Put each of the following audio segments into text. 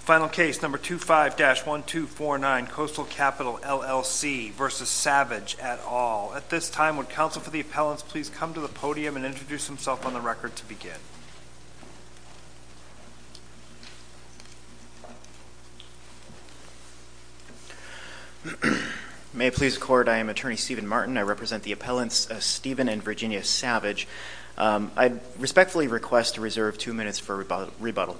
Final case number 25-1249, Coastal Capital, LLC v. Savage et al. At this time would counsel for the appellants please come to the podium and introduce himself on the record to begin. May it please the court, I am attorney Steven Martin. I represent the appellants Steven and Virginia Savage. I respectfully request to reserve two minutes for rebuttal.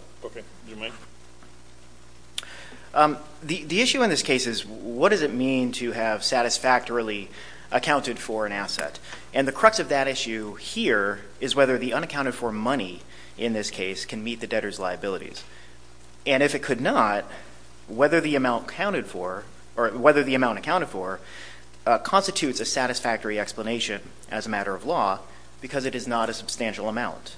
The issue in this case is what does it mean to have satisfactorily accounted for an asset and the crux of that issue here is whether the unaccounted for money in this case can meet the debtor's liabilities and if it could not whether the amount counted for or whether the amount accounted for constitutes a satisfactory explanation as a matter of law because it is not a substantial amount.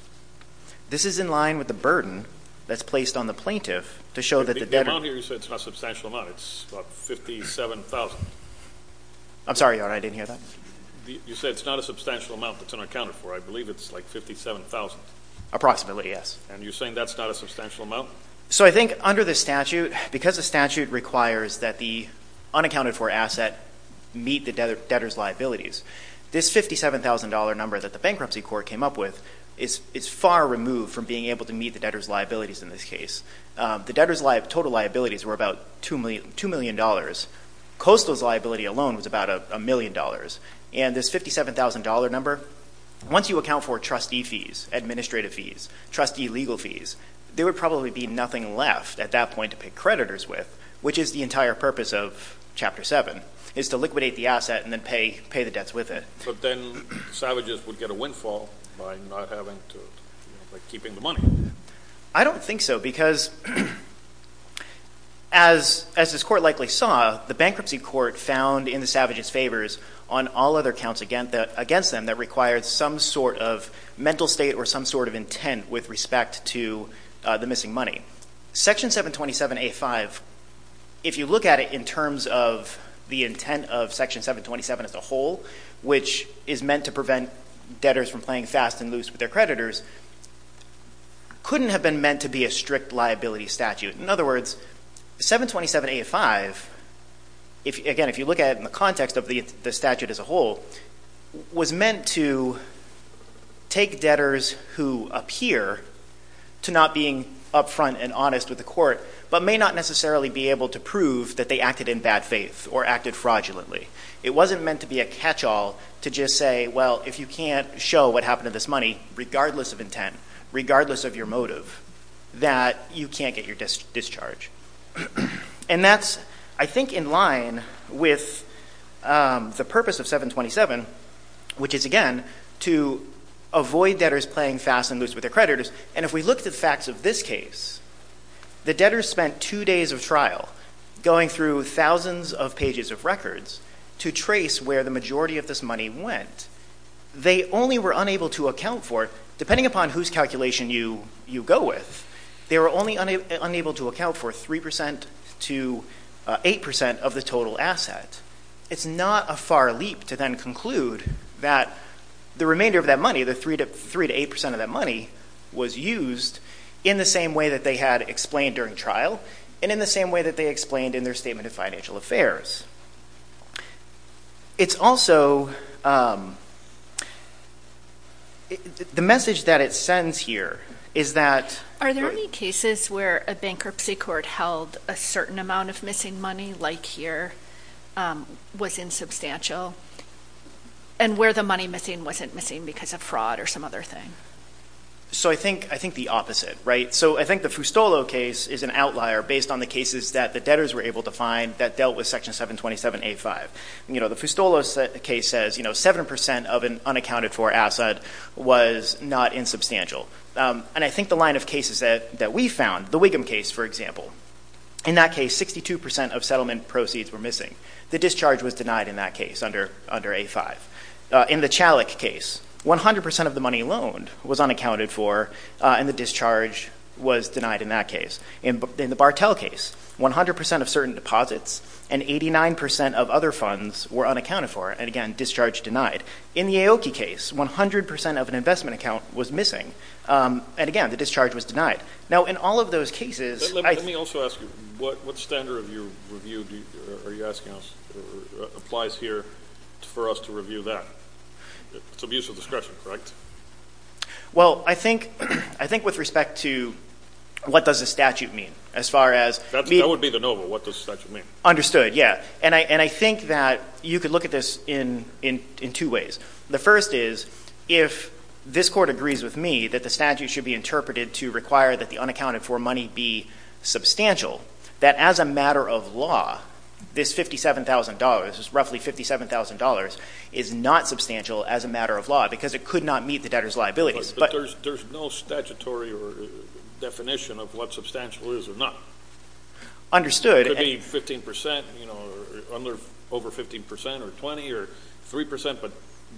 This is in line with the burden that's placed on the plaintiff to show that the debtor. You said it's not a substantial amount, it's about 57,000. I'm sorry your honor, I didn't hear that. You said it's not a substantial amount that's unaccounted for. I believe it's like 57,000. Approximately, yes. And you're saying that's not a substantial amount? So I think under this statute because the statute requires that the unaccounted for asset meet the debtor's liabilities. This $57,000 number that the Bankruptcy Court came up with is far removed from being able to meet the debtor's liabilities in this case. The debtor's total liabilities were about $2 million. Coastal's liability alone was about a million dollars and this $57,000 number, once you account for trustee fees, administrative fees, trustee legal fees, there would probably be nothing left at that point to pay creditors with which is the entire purpose of Chapter 7, is to liquidate the asset and then pay the debts with it. But then savages would get a windfall by not having to, by keeping the money. I don't think so because as this court likely saw, the Bankruptcy Court found in the savages' favors on all other counts against them that required some sort of mental state or some sort of intent with respect to the missing money. Section 727A5, if you look at it in terms of the intent of Section 727 as a whole, which is meant to prevent debtors from playing fast and loose with their creditors, couldn't have been meant to be a strict liability statute. In other words, 727A5, again if you look at it in the not being upfront and honest with the court, but may not necessarily be able to prove that they acted in bad faith or acted fraudulently. It wasn't meant to be a catch-all to just say, well if you can't show what happened to this money, regardless of intent, regardless of your motive, that you can't get your discharge. And that's I think in line with the purpose of 727, which is again to avoid debtors playing fast and loose with their creditors. And if we look at facts of this case, the debtors spent two days of trial going through thousands of pages of records to trace where the majority of this money went. They only were unable to account for, depending upon whose calculation you go with, they were only unable to account for 3% to 8% of the total asset. It's not a far leap to then conclude that the remainder of that money, the 3% to 8% of that money, was used in the same way that they had explained during trial and in the same way that they explained in their statement of financial affairs. It's also, the message that it sends here is that... Are there any cases where a bankruptcy court held a certain amount of missing money, like here, was insubstantial, and where the money missing wasn't missing because of fraud or some other thing? So I think the opposite, right? So I think the Fustolo case is an outlier based on the cases that the debtors were able to find that dealt with Section 727A5. You know, the Fustolo case says, you know, 7% of an unaccounted-for asset was not insubstantial. And I think the line of cases that we found, the Wiggum case for example, in that case 62% of settlement proceeds were missing. The discharge was denied in that case under under A5. In the Chalik case, 100% of the money loaned was unaccounted for, and the discharge was denied in that case. In the Bartell case, 100% of certain deposits and 89% of other funds were unaccounted for, and again, discharge denied. In the Aoki case, 100% of an investment account was missing, and again, the discharge was denied. Now in all of those cases... Let me also ask you, what standard of your review, are you asking us, applies here for us to review that? It's abuse of discretion, correct? Well, I think with respect to what does a statute mean, as far as... That would be the NOVA, what does a statute mean. Understood, yeah. And I think that you could look at this in two ways. The first is, if this Court agrees with me that the statute should be interpreted to require that the unaccounted-for money be substantial, that as a matter of law, this $57,000, roughly $57,000, is not substantial as a matter of law, because it could not meet the debtor's liabilities. But there's no statutory definition of what substantial is or not. Understood. It could be 15%, you know, under over 15% or 20 or 3%, but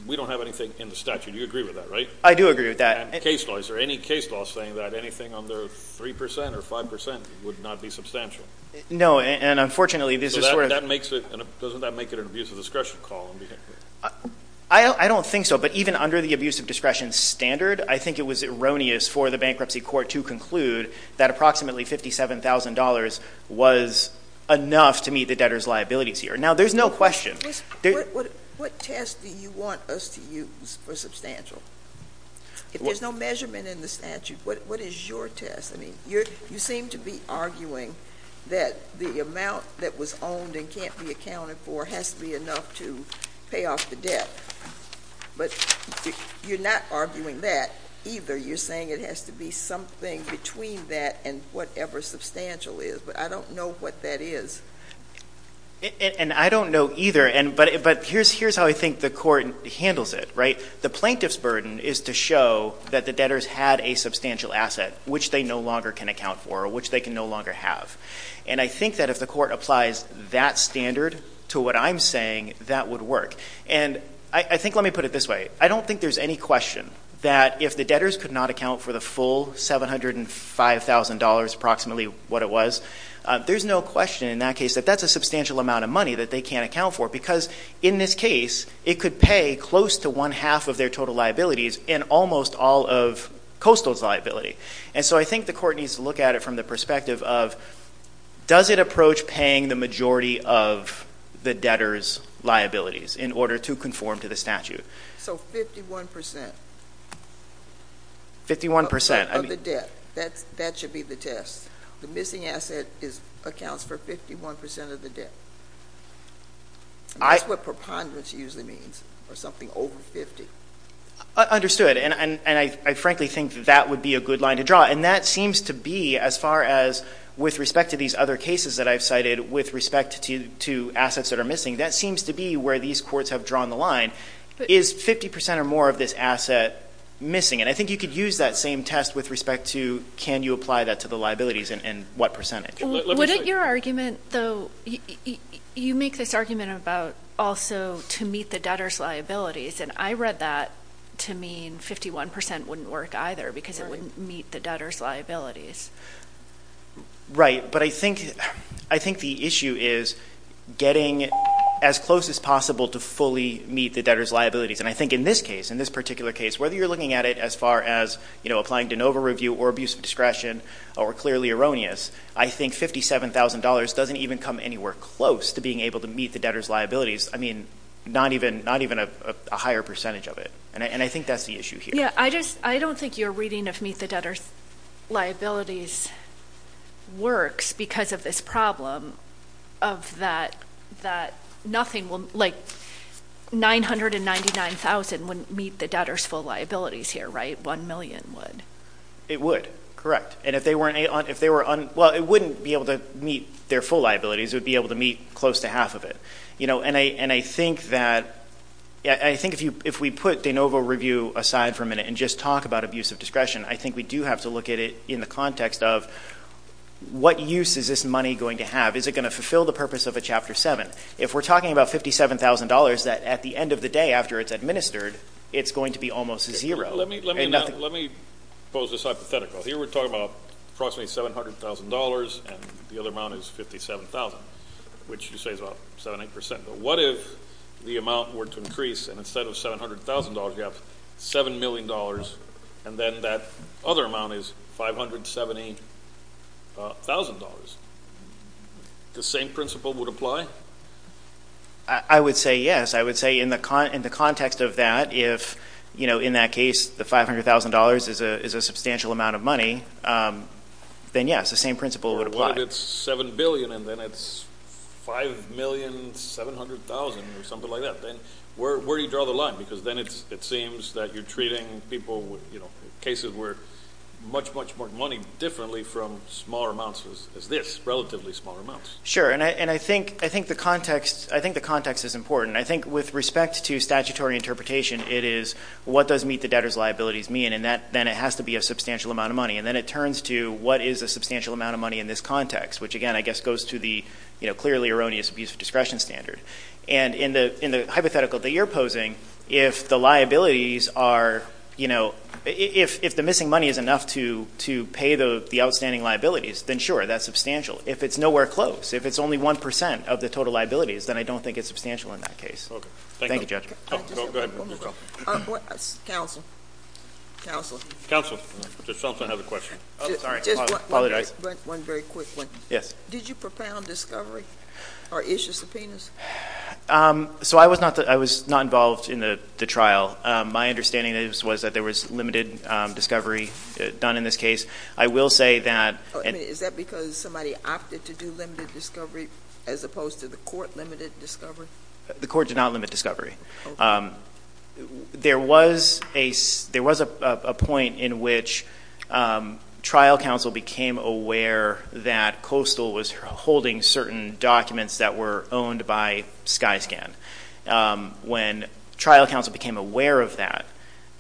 we don't have anything in the statute. You agree with that, right? I do agree with that. And case law, is there any case law saying that anything under 3% or 5% would not be substantial? No, and unfortunately, this is... Doesn't that make it an abuse of discretion call? I don't think so, but even under the abuse of discretion standard, I think it was erroneous for the Bankruptcy Court to conclude that approximately $57,000 was enough to meet the debtor's liabilities here. Now, there's no question... What test do you want us to use for substantial? If there's no measurement in the statute, what is your test? I mean, you seem to be arguing that the amount that was owned and can't be accounted for has to be enough to pay off the debt, but you're not arguing that either. You're saying it has to be something between that and whatever substantial is, but I don't know what that is. And I don't know either, but here's how I think the court handles it, right? The plaintiff's burden is to show that the debtors had a substantial asset, which they no longer can account for, or which they can no longer have. And I think that if the court applies that standard to what I'm saying, that would work. And I think, let me put it this way, I don't think there's any question that if the debtors could not account for the full $705,000, approximately what it was, there's no question in that case that that's a substantial amount of money that they can't account for, because in this case, it could pay close to one-half of their total liabilities and almost all of Coastal's liability. And so I think the court needs to look at it from the perspective of, does it approach paying the majority of the debtors' liabilities in order to conform to the statute? So 51%? 51% of the debt. That should be the test. The missing asset accounts for 51% of the debt. That's what preponderance usually means, or something over 50. Understood. And I frankly think that would be a good line to draw. And that seems to be, as far as with respect to these other cases that I've cited, with respect to assets that are missing, that seems to be where these courts have drawn the line. Is 50% or more of this asset missing? And I think you could use that same test with respect to, can you apply that to the liabilities and what percentage? Wouldn't your argument, though, you make this argument about also to meet the debtors' liabilities. And I read that to mean 51% wouldn't work either, because it wouldn't meet the debtors' liabilities. Right. But I think the issue is getting as close as possible to fully meet the debtors' liabilities. And I think in this case, in this particular case, whether you're looking at it as far as applying de novo review or abuse of discretion or clearly erroneous, I think $57,000 doesn't even come anywhere close to being able to meet the debtors' liabilities. I mean, not even a higher percentage of it. And I think that's the issue here. Yeah. I don't think your reading of meet the debtors' liabilities works because of this problem of that nothing will, like, $999,000 wouldn't meet the debtors' full liabilities here, right? $1 million would. It would. Correct. And if they weren't, if they were, well, it wouldn't be able to meet their full liabilities. It would be able to meet close to half of it. You know, and I think that, I think if we put de novo review aside for a minute and just talk about abuse of discretion, I think we do have to look at it in the context of what use is this money going to have? Is it going to fulfill the purpose of a Chapter 7? If we're talking about $57,000 that at the end of the day after it's administered, it's going to be almost zero. Let me pose this hypothetical. Here we're talking about approximately $700,000 and the other amount is $57,000, which you say is about 7, 8%. But what if the amount were to increase and instead of $700,000, you have $7 million and then that other amount is $570,000? The same principle would apply? I would say yes. I would say in the context of that, if, you know, in that case, the $500,000 is a substantial amount of money, then yes, the same principle would apply. What if it's $7 billion and then it's $5,700,000 or something like that? Then where do you draw the line? Because then it seems that you're treating people with, you know, cases where much, much more money differently from smaller amounts is this, relatively smaller amounts. Sure. And I think the context is important. I think with respect to statutory interpretation, it is what does meet the debtor's liabilities mean? And then it has to be a substantial amount of money. And then it turns to what is a substantial amount of money in this context, which again, I guess, goes to the, you know, clearly erroneous abuse of discretion standard. And in the hypothetical that you're posing, if the liabilities are, you know, if the missing money is enough to pay the outstanding liabilities, then sure, that's substantial. If it's nowhere close, if it's only 1% of the total liabilities, then I don't think it's substantial in that case. Thank you, Judge. Go ahead. Counsel. Counsel. Counsel has another question. Oh, sorry. Apologize. Just one very quick one. Yes. Did you propound discovery or issue subpoenas? So I was not involved in the trial. My understanding is, was that there was limited discovery done in this case. I will say that... Is that because somebody opted to do limited discovery as opposed to the court limited discovery? The court did not limit discovery. There was a point in which trial counsel became aware that Coastal was holding certain documents that were owned by Skyscan. When trial counsel became aware of that,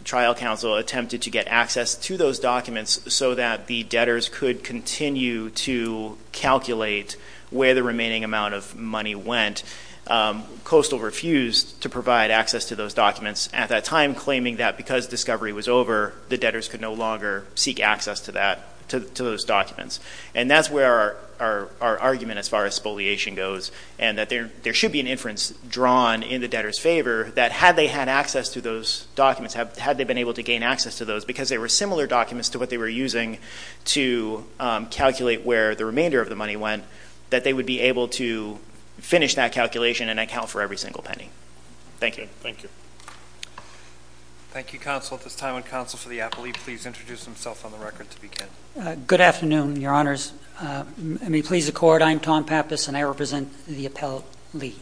trial counsel attempted to get access to those documents so that the debtors could continue to calculate where the remaining amount of money went. Coastal refused to provide access to those documents at that time, claiming that because discovery was over, the debtors could no longer seek access to that, to those documents. And that's where our argument as far as spoliation goes, and that there should be an inference drawn in the debtors' favor that had they had access to those documents, had they been able to gain access to those because they were similar documents to what they were using to calculate where the remainder of the money went, that they would be able to finish that calculation and account for every single penny. Thank you. Thank you, counsel. At this time, would counsel for the appellee please introduce himself on the record to begin? Good afternoon, Your Honors. May it please the Court, I'm Tom Pappas and I represent the appellee.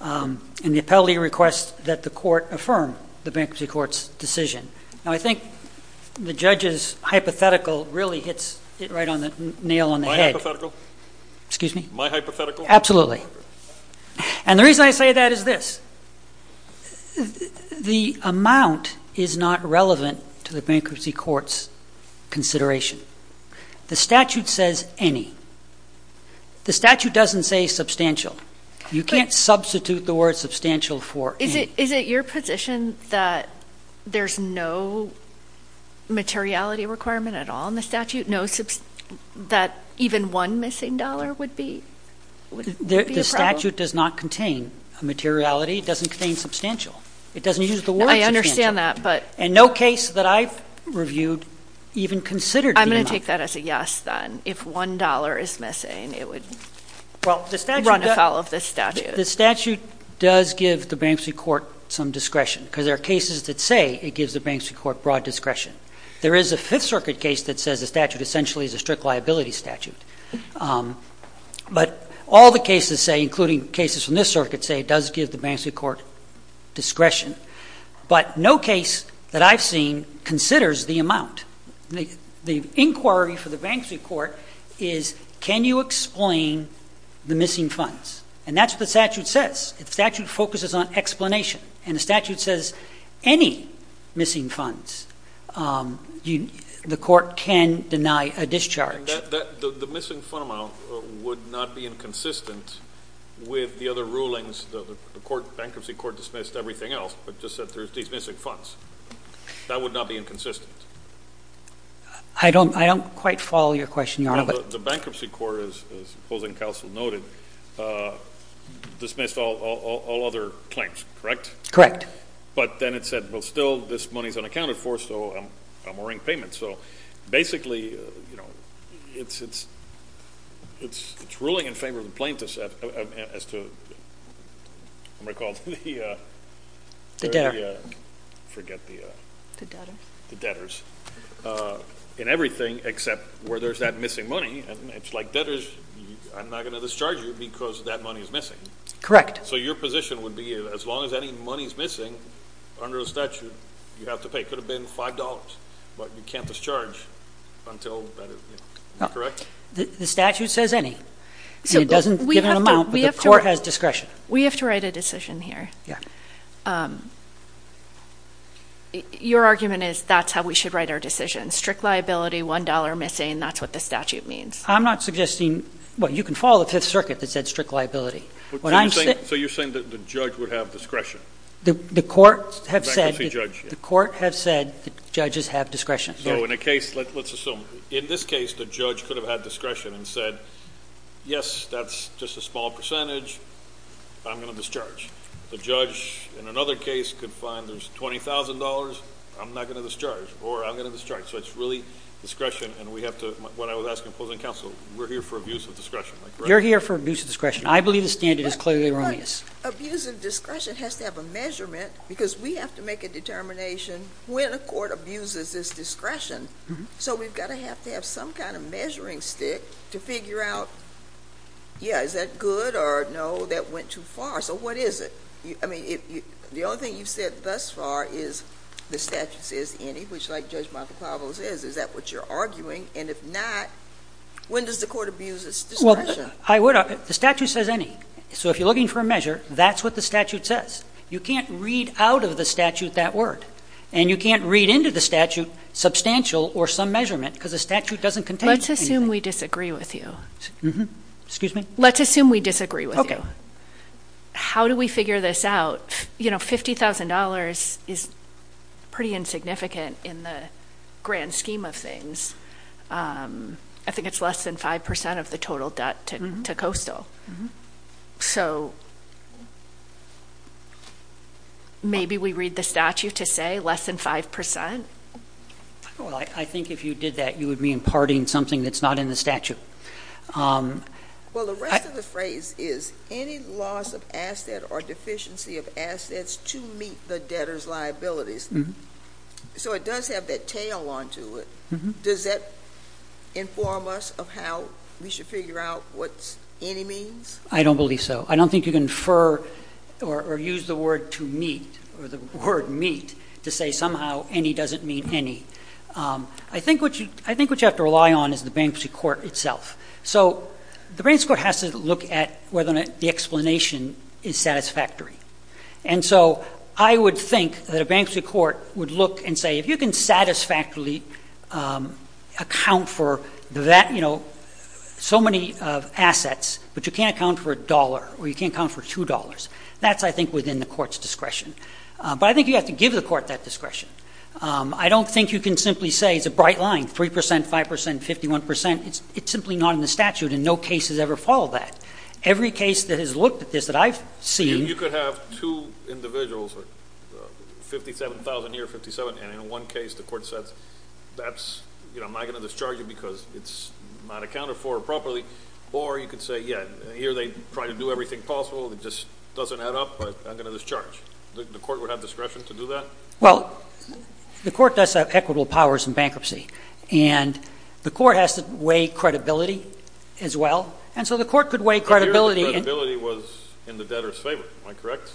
And the appellee requests that the court affirm the bankruptcy court's decision. Now, I think the judge's hypothetical really hits it right on the nail on the head. My hypothetical? Excuse me? My hypothetical? Absolutely. And the reason I say that is this. The amount is not relevant to the bankruptcy court's consideration. The statute says any. The statute doesn't say substantial. You can't substitute the word substantial for any. Is it your position that there's no materiality requirement at all in the statute? No, that even one missing dollar would be a problem? The statute does not contain a materiality. It doesn't contain substantial. It doesn't use the word substantial. I understand that, but And no case that I've reviewed even considered being enough. I'm going to take that as a yes, then. If one dollar is missing, it would run afoul of this statute. The statute does give the bankruptcy court some discretion because there are cases that say it gives the bankruptcy court broad discretion. There is a Fifth Circuit case that says the statute essentially is a strict liability statute. But all the cases say, including cases from this circuit, say it does give the bankruptcy court discretion. But no case that I've seen considers the amount. The inquiry for the bankruptcy court is can you explain the missing funds? And that's what the statute says. The statute focuses on explanation. And the statute says any missing funds, the court can deny a discharge. The missing fund amount would not be inconsistent with the other rulings. The bankruptcy court dismissed everything else, but just said there's these missing funds. That would not be inconsistent. I don't quite follow your question, Your Honor. The bankruptcy court, as opposing counsel noted, dismissed all other claims, correct? Correct. But then it said, well, still, this money is unaccounted for, so I'm owing payment. So basically, you know, it's ruling in favor of the plaintiffs as to, if I recall, the debtors in everything except where there's that missing money, and it's like debtors, I'm not going to discharge you because that money is missing. Correct. So your position would be, as long as any money is missing under the statute, you have to pay. It could have been $5, but you can't discharge until that is, you know, correct? The statute says any. And it doesn't give an amount, but the court has discretion. We have to write a decision here. Your argument is that's how we should write our decision. Strict liability, $1 missing, that's what the statute means. I'm not suggesting, well, you can follow the Fifth Circuit that said strict liability. So you're saying that the judge would have discretion? The court has said that judges have discretion. So in a case, let's assume, in this case, the judge could have had discretion and said, yes, that's just a small percentage, I'm going to discharge. The judge, in another case, could find there's $20,000, I'm not going to discharge, or I'm going to discharge. So it's really discretion, and we have to, what I was asking opposing counsel, we're here for abuse of discretion. You're here for abuse of discretion. I believe the standard is clearly wrong. Abuse of discretion has to have a measurement, because we have to make a determination when a court abuses its discretion. So we've got to have to have some kind of measuring stick to figure out, yeah, is that good or no, that went too far. So what is it? The only thing you've said thus far is the statute says any, which like Judge Michael Pavlos says, is that what you're arguing? And if not, when does the court abuse its discretion? The statute says any. So if you're looking for a measure, that's what the statute says. You can't read out of the statute that word. And you can't read into the statute substantial or some measurement, because the statute doesn't contain anything. Let's assume we disagree with you. Let's assume we disagree with you. How do we figure this out? You know, $50,000 is pretty insignificant in the grand scheme of things. I think it's less than 5% of the total debt to Coastal. So maybe we read the statute to say less than 5%? Well, I think if you did that, you would be imparting something that's not in the statute. Well, the rest of the phrase is any loss of asset or deficiency of assets to meet the debtor's liabilities. So it does have that tail on to it. Does that inform us of how we should figure out what any means? I don't believe so. I don't think you can infer or use the word to meet or the word meet to say somehow any doesn't mean any. I think what you have to rely on is the bankruptcy court itself. So the bankruptcy court has to look at whether the explanation is satisfactory. And so I would think that a bankruptcy court would look and say, if you can satisfactorily account for that, you know, so many assets, but you can't account for $1 or you can't account for $2, that's, I think, within the court's discretion. But I think you have to give the court that discretion. I don't think you can simply say it's a bright line, 3%, 5%, 51%. It's simply not in the statute and no case has ever followed that. Every case that has looked at this that I've seen You could have two individuals, 57,000 here, 57,000, and in one case the court says that's, you know, I'm not going to discharge you because it's not accounted for properly. Or you could say, yeah, here they try to do everything possible, it just doesn't add up, but I'm going to discharge. The court would have discretion to do that? Well, the court does have equitable powers in bankruptcy. And the court has to weigh credibility as well. And so the court could weigh credibility I hear the credibility was in the debtor's favor. Am I correct?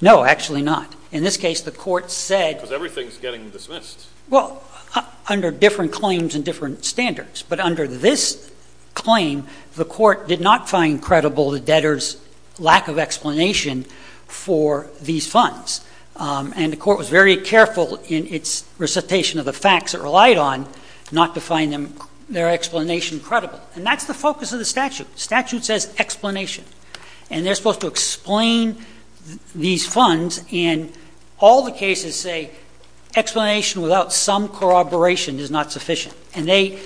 No, actually not. In this case, the court said Because everything's getting dismissed. Well, under different claims and different standards. But under this claim, the court did not find credible the debtor's lack of explanation for these funds. And the court was very careful in its recitation of the facts it relied on not to find their explanation credible. And that's the focus of the statute. The statute says explanation. And they're supposed to explain these funds. And all the cases say explanation without some corroboration is not sufficient. And in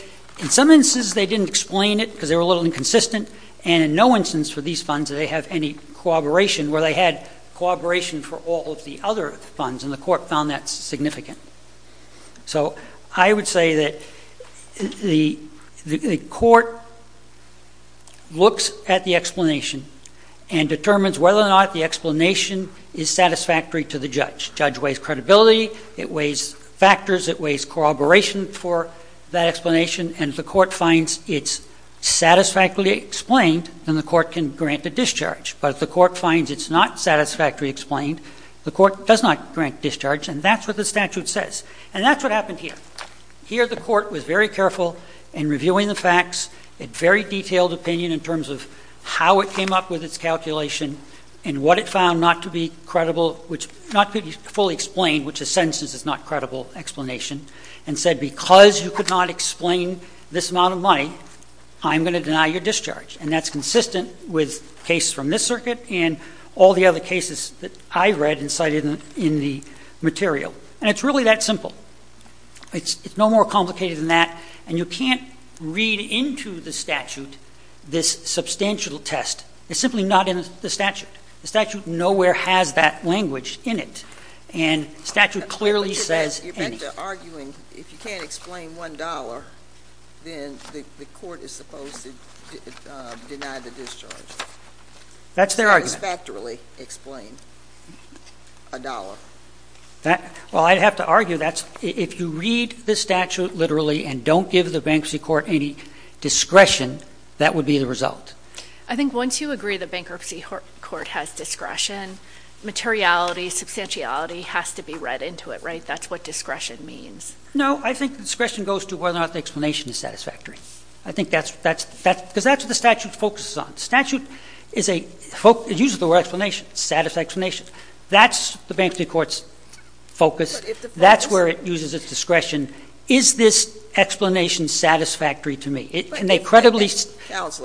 some instances they didn't explain it because they were a little inconsistent. And in no instance for these funds did they have any corroboration where they had corroboration for all of the other funds. And the court found that significant. So I would say that the court looks at the explanation and determines whether or not the explanation is satisfactory to the judge. Judge weighs credibility. It weighs factors. It weighs corroboration for that explanation. And if the court finds it's satisfactorily explained, then the court can grant a discharge. But if the court finds it's not satisfactorily explained, the court does not grant discharge. And that's what the statute says. And that's what happened here. Here the court was very careful in reviewing the facts, had very detailed opinion in terms of how it came up with its calculation and what it found not to be credible, which not to be fully explained, which in some instances is not a credible explanation, and said because you could not explain this amount of money, I'm going to deny your discharge. And that's consistent with cases from this circuit and all the other cases that I read and cited in the material. And it's really that simple. It's no more complicated than that. And you can't read into the statute this substantial test. It's simply not in the statute. The statute nowhere has that language in it. And the statute clearly says any. Arguing if you can't explain $1, then the court is supposed to deny the discharge. That's their argument. Factorly explained $1. Well, I'd have to argue that if you read the statute literally and don't give the bankruptcy court any discretion, that would be the result. I think once you agree the bankruptcy court has discretion, materiality, substantiality has to be read into it, right? That's what discretion means. No, I think discretion goes to whether or not the explanation is satisfactory. I think that's because that's what the statute focuses on. Statute is a folk. It uses the word explanation. Satisfaction. That's the bankruptcy court's focus. That's where it uses its discretion. Is this explanation satisfactory to me? Can they credibly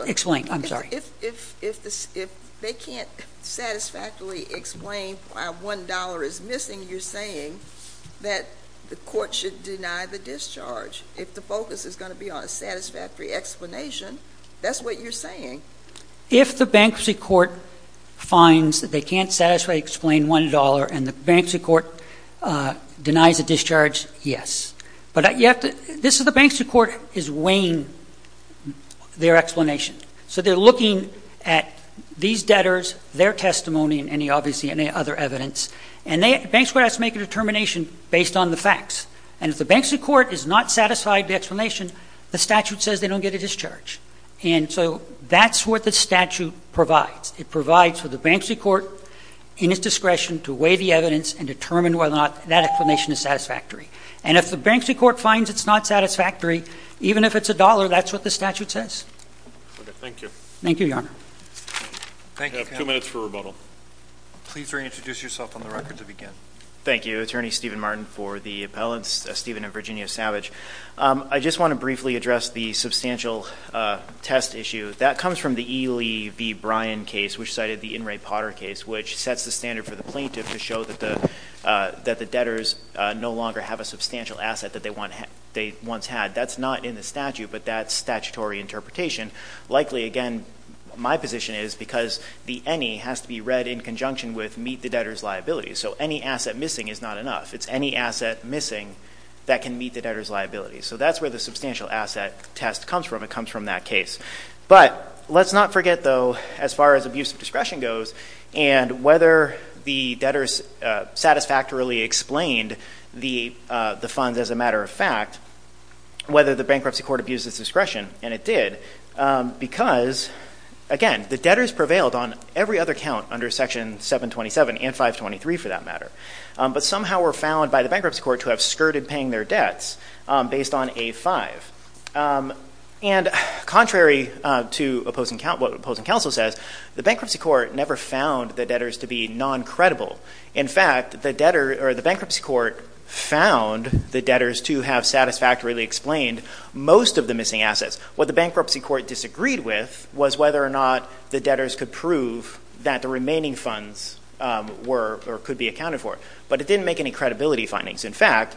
explain? I'm sorry. If they can't satisfactorily explain why $1 is missing, you're saying that the court should deny the discharge. If the focus is going to be on a satisfactory explanation, that's what you're saying. If the bankruptcy court finds that they can't satisfy, explain $1 and the bankruptcy court denies a discharge, yes. But this is the bankruptcy court is weighing their explanation. So they're looking at these debtors, their testimony, and obviously any other evidence. And the bankruptcy court has to make a determination based on the facts. And if the bankruptcy court is not satisfied the explanation, the statute says they don't get a discharge. And so that's what the statute provides. It provides for the bankruptcy court in its discretion to weigh the evidence and determine whether or not that explanation is satisfactory. And if the bankruptcy court finds it's not satisfactory, even if it's $1, that's what the statute says. Okay. Thank you. Thank you, Your Honor. Thank you. Two minutes for rebuttal. Please introduce yourself on the record to begin. Thank you. Attorney Steven Martin for the appellants, Steven and Virginia Savage. I just want to briefly address the substantial test issue that comes from the E. Lee B. Brian case, which cited the in Ray Potter case, which sets the standard for the plaintiff to show that the that the debtors no longer have a substantial asset that they want. They once had that's not in the statute, but that's statutory interpretation. Likely, again, my position is because the any has to be read in conjunction with meet the debtors liabilities. So any asset missing is not enough. It's any asset missing that can meet the debtors liabilities. So that's where the substantial asset test comes from. It comes from that case. But let's not forget, though, as far as abuse of discretion goes and whether the debtors satisfactorily explained the funds as a matter of fact, whether the bankruptcy court abuses discretion. And it did because again, the debtors prevailed on every other count under Section 7 27 and 5 23 for that matter. But somehow were found by the bankruptcy court to have skirted paying their debts based on a five. Um, and contrary to opposing what opposing counsel says, the bankruptcy court never found the debtors to be non credible. In fact, the debtor or the bankruptcy court found the debtors to have satisfactorily explained most of the missing assets. What the bankruptcy court disagreed with was whether or not the debtors could prove that the remaining funds were or could be accounted for. But it didn't make any credibility findings. In fact,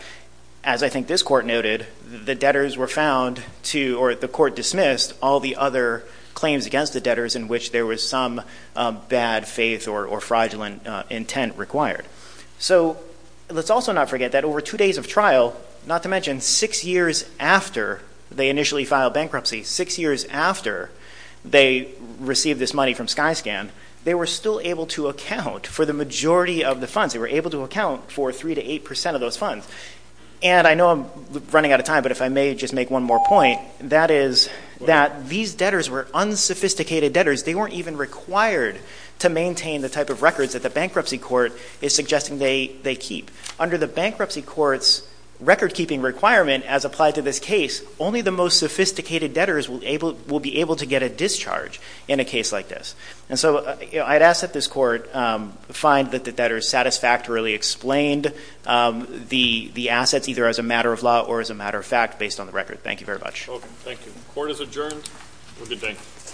as I think this court noted, the debtors were found to or the court dismissed all the other claims against the in which there was some bad faith or fraudulent intent required. So let's also not forget that over two days of trial, not to mention six years after they initially filed bankruptcy, six years after they received this money from Skyscan, they were still able to account for the majority of the funds. They were able to account for 3 to 8% of those funds. And I know I'm running out of time, but if I may just make one more point, that is that these debtors were unsophisticated debtors. They weren't even required to maintain the type of records that the bankruptcy court is suggesting they keep. Under the bankruptcy court's record keeping requirement as applied to this case, only the most sophisticated debtors will be able to get a discharge in a case like this. And so I'd ask that this court find that the debtors satisfactorily explained the assets either as a matter of law or as a matter of fact based on the record. Thank you very much. Thank you. Court is adjourned. Have a good day.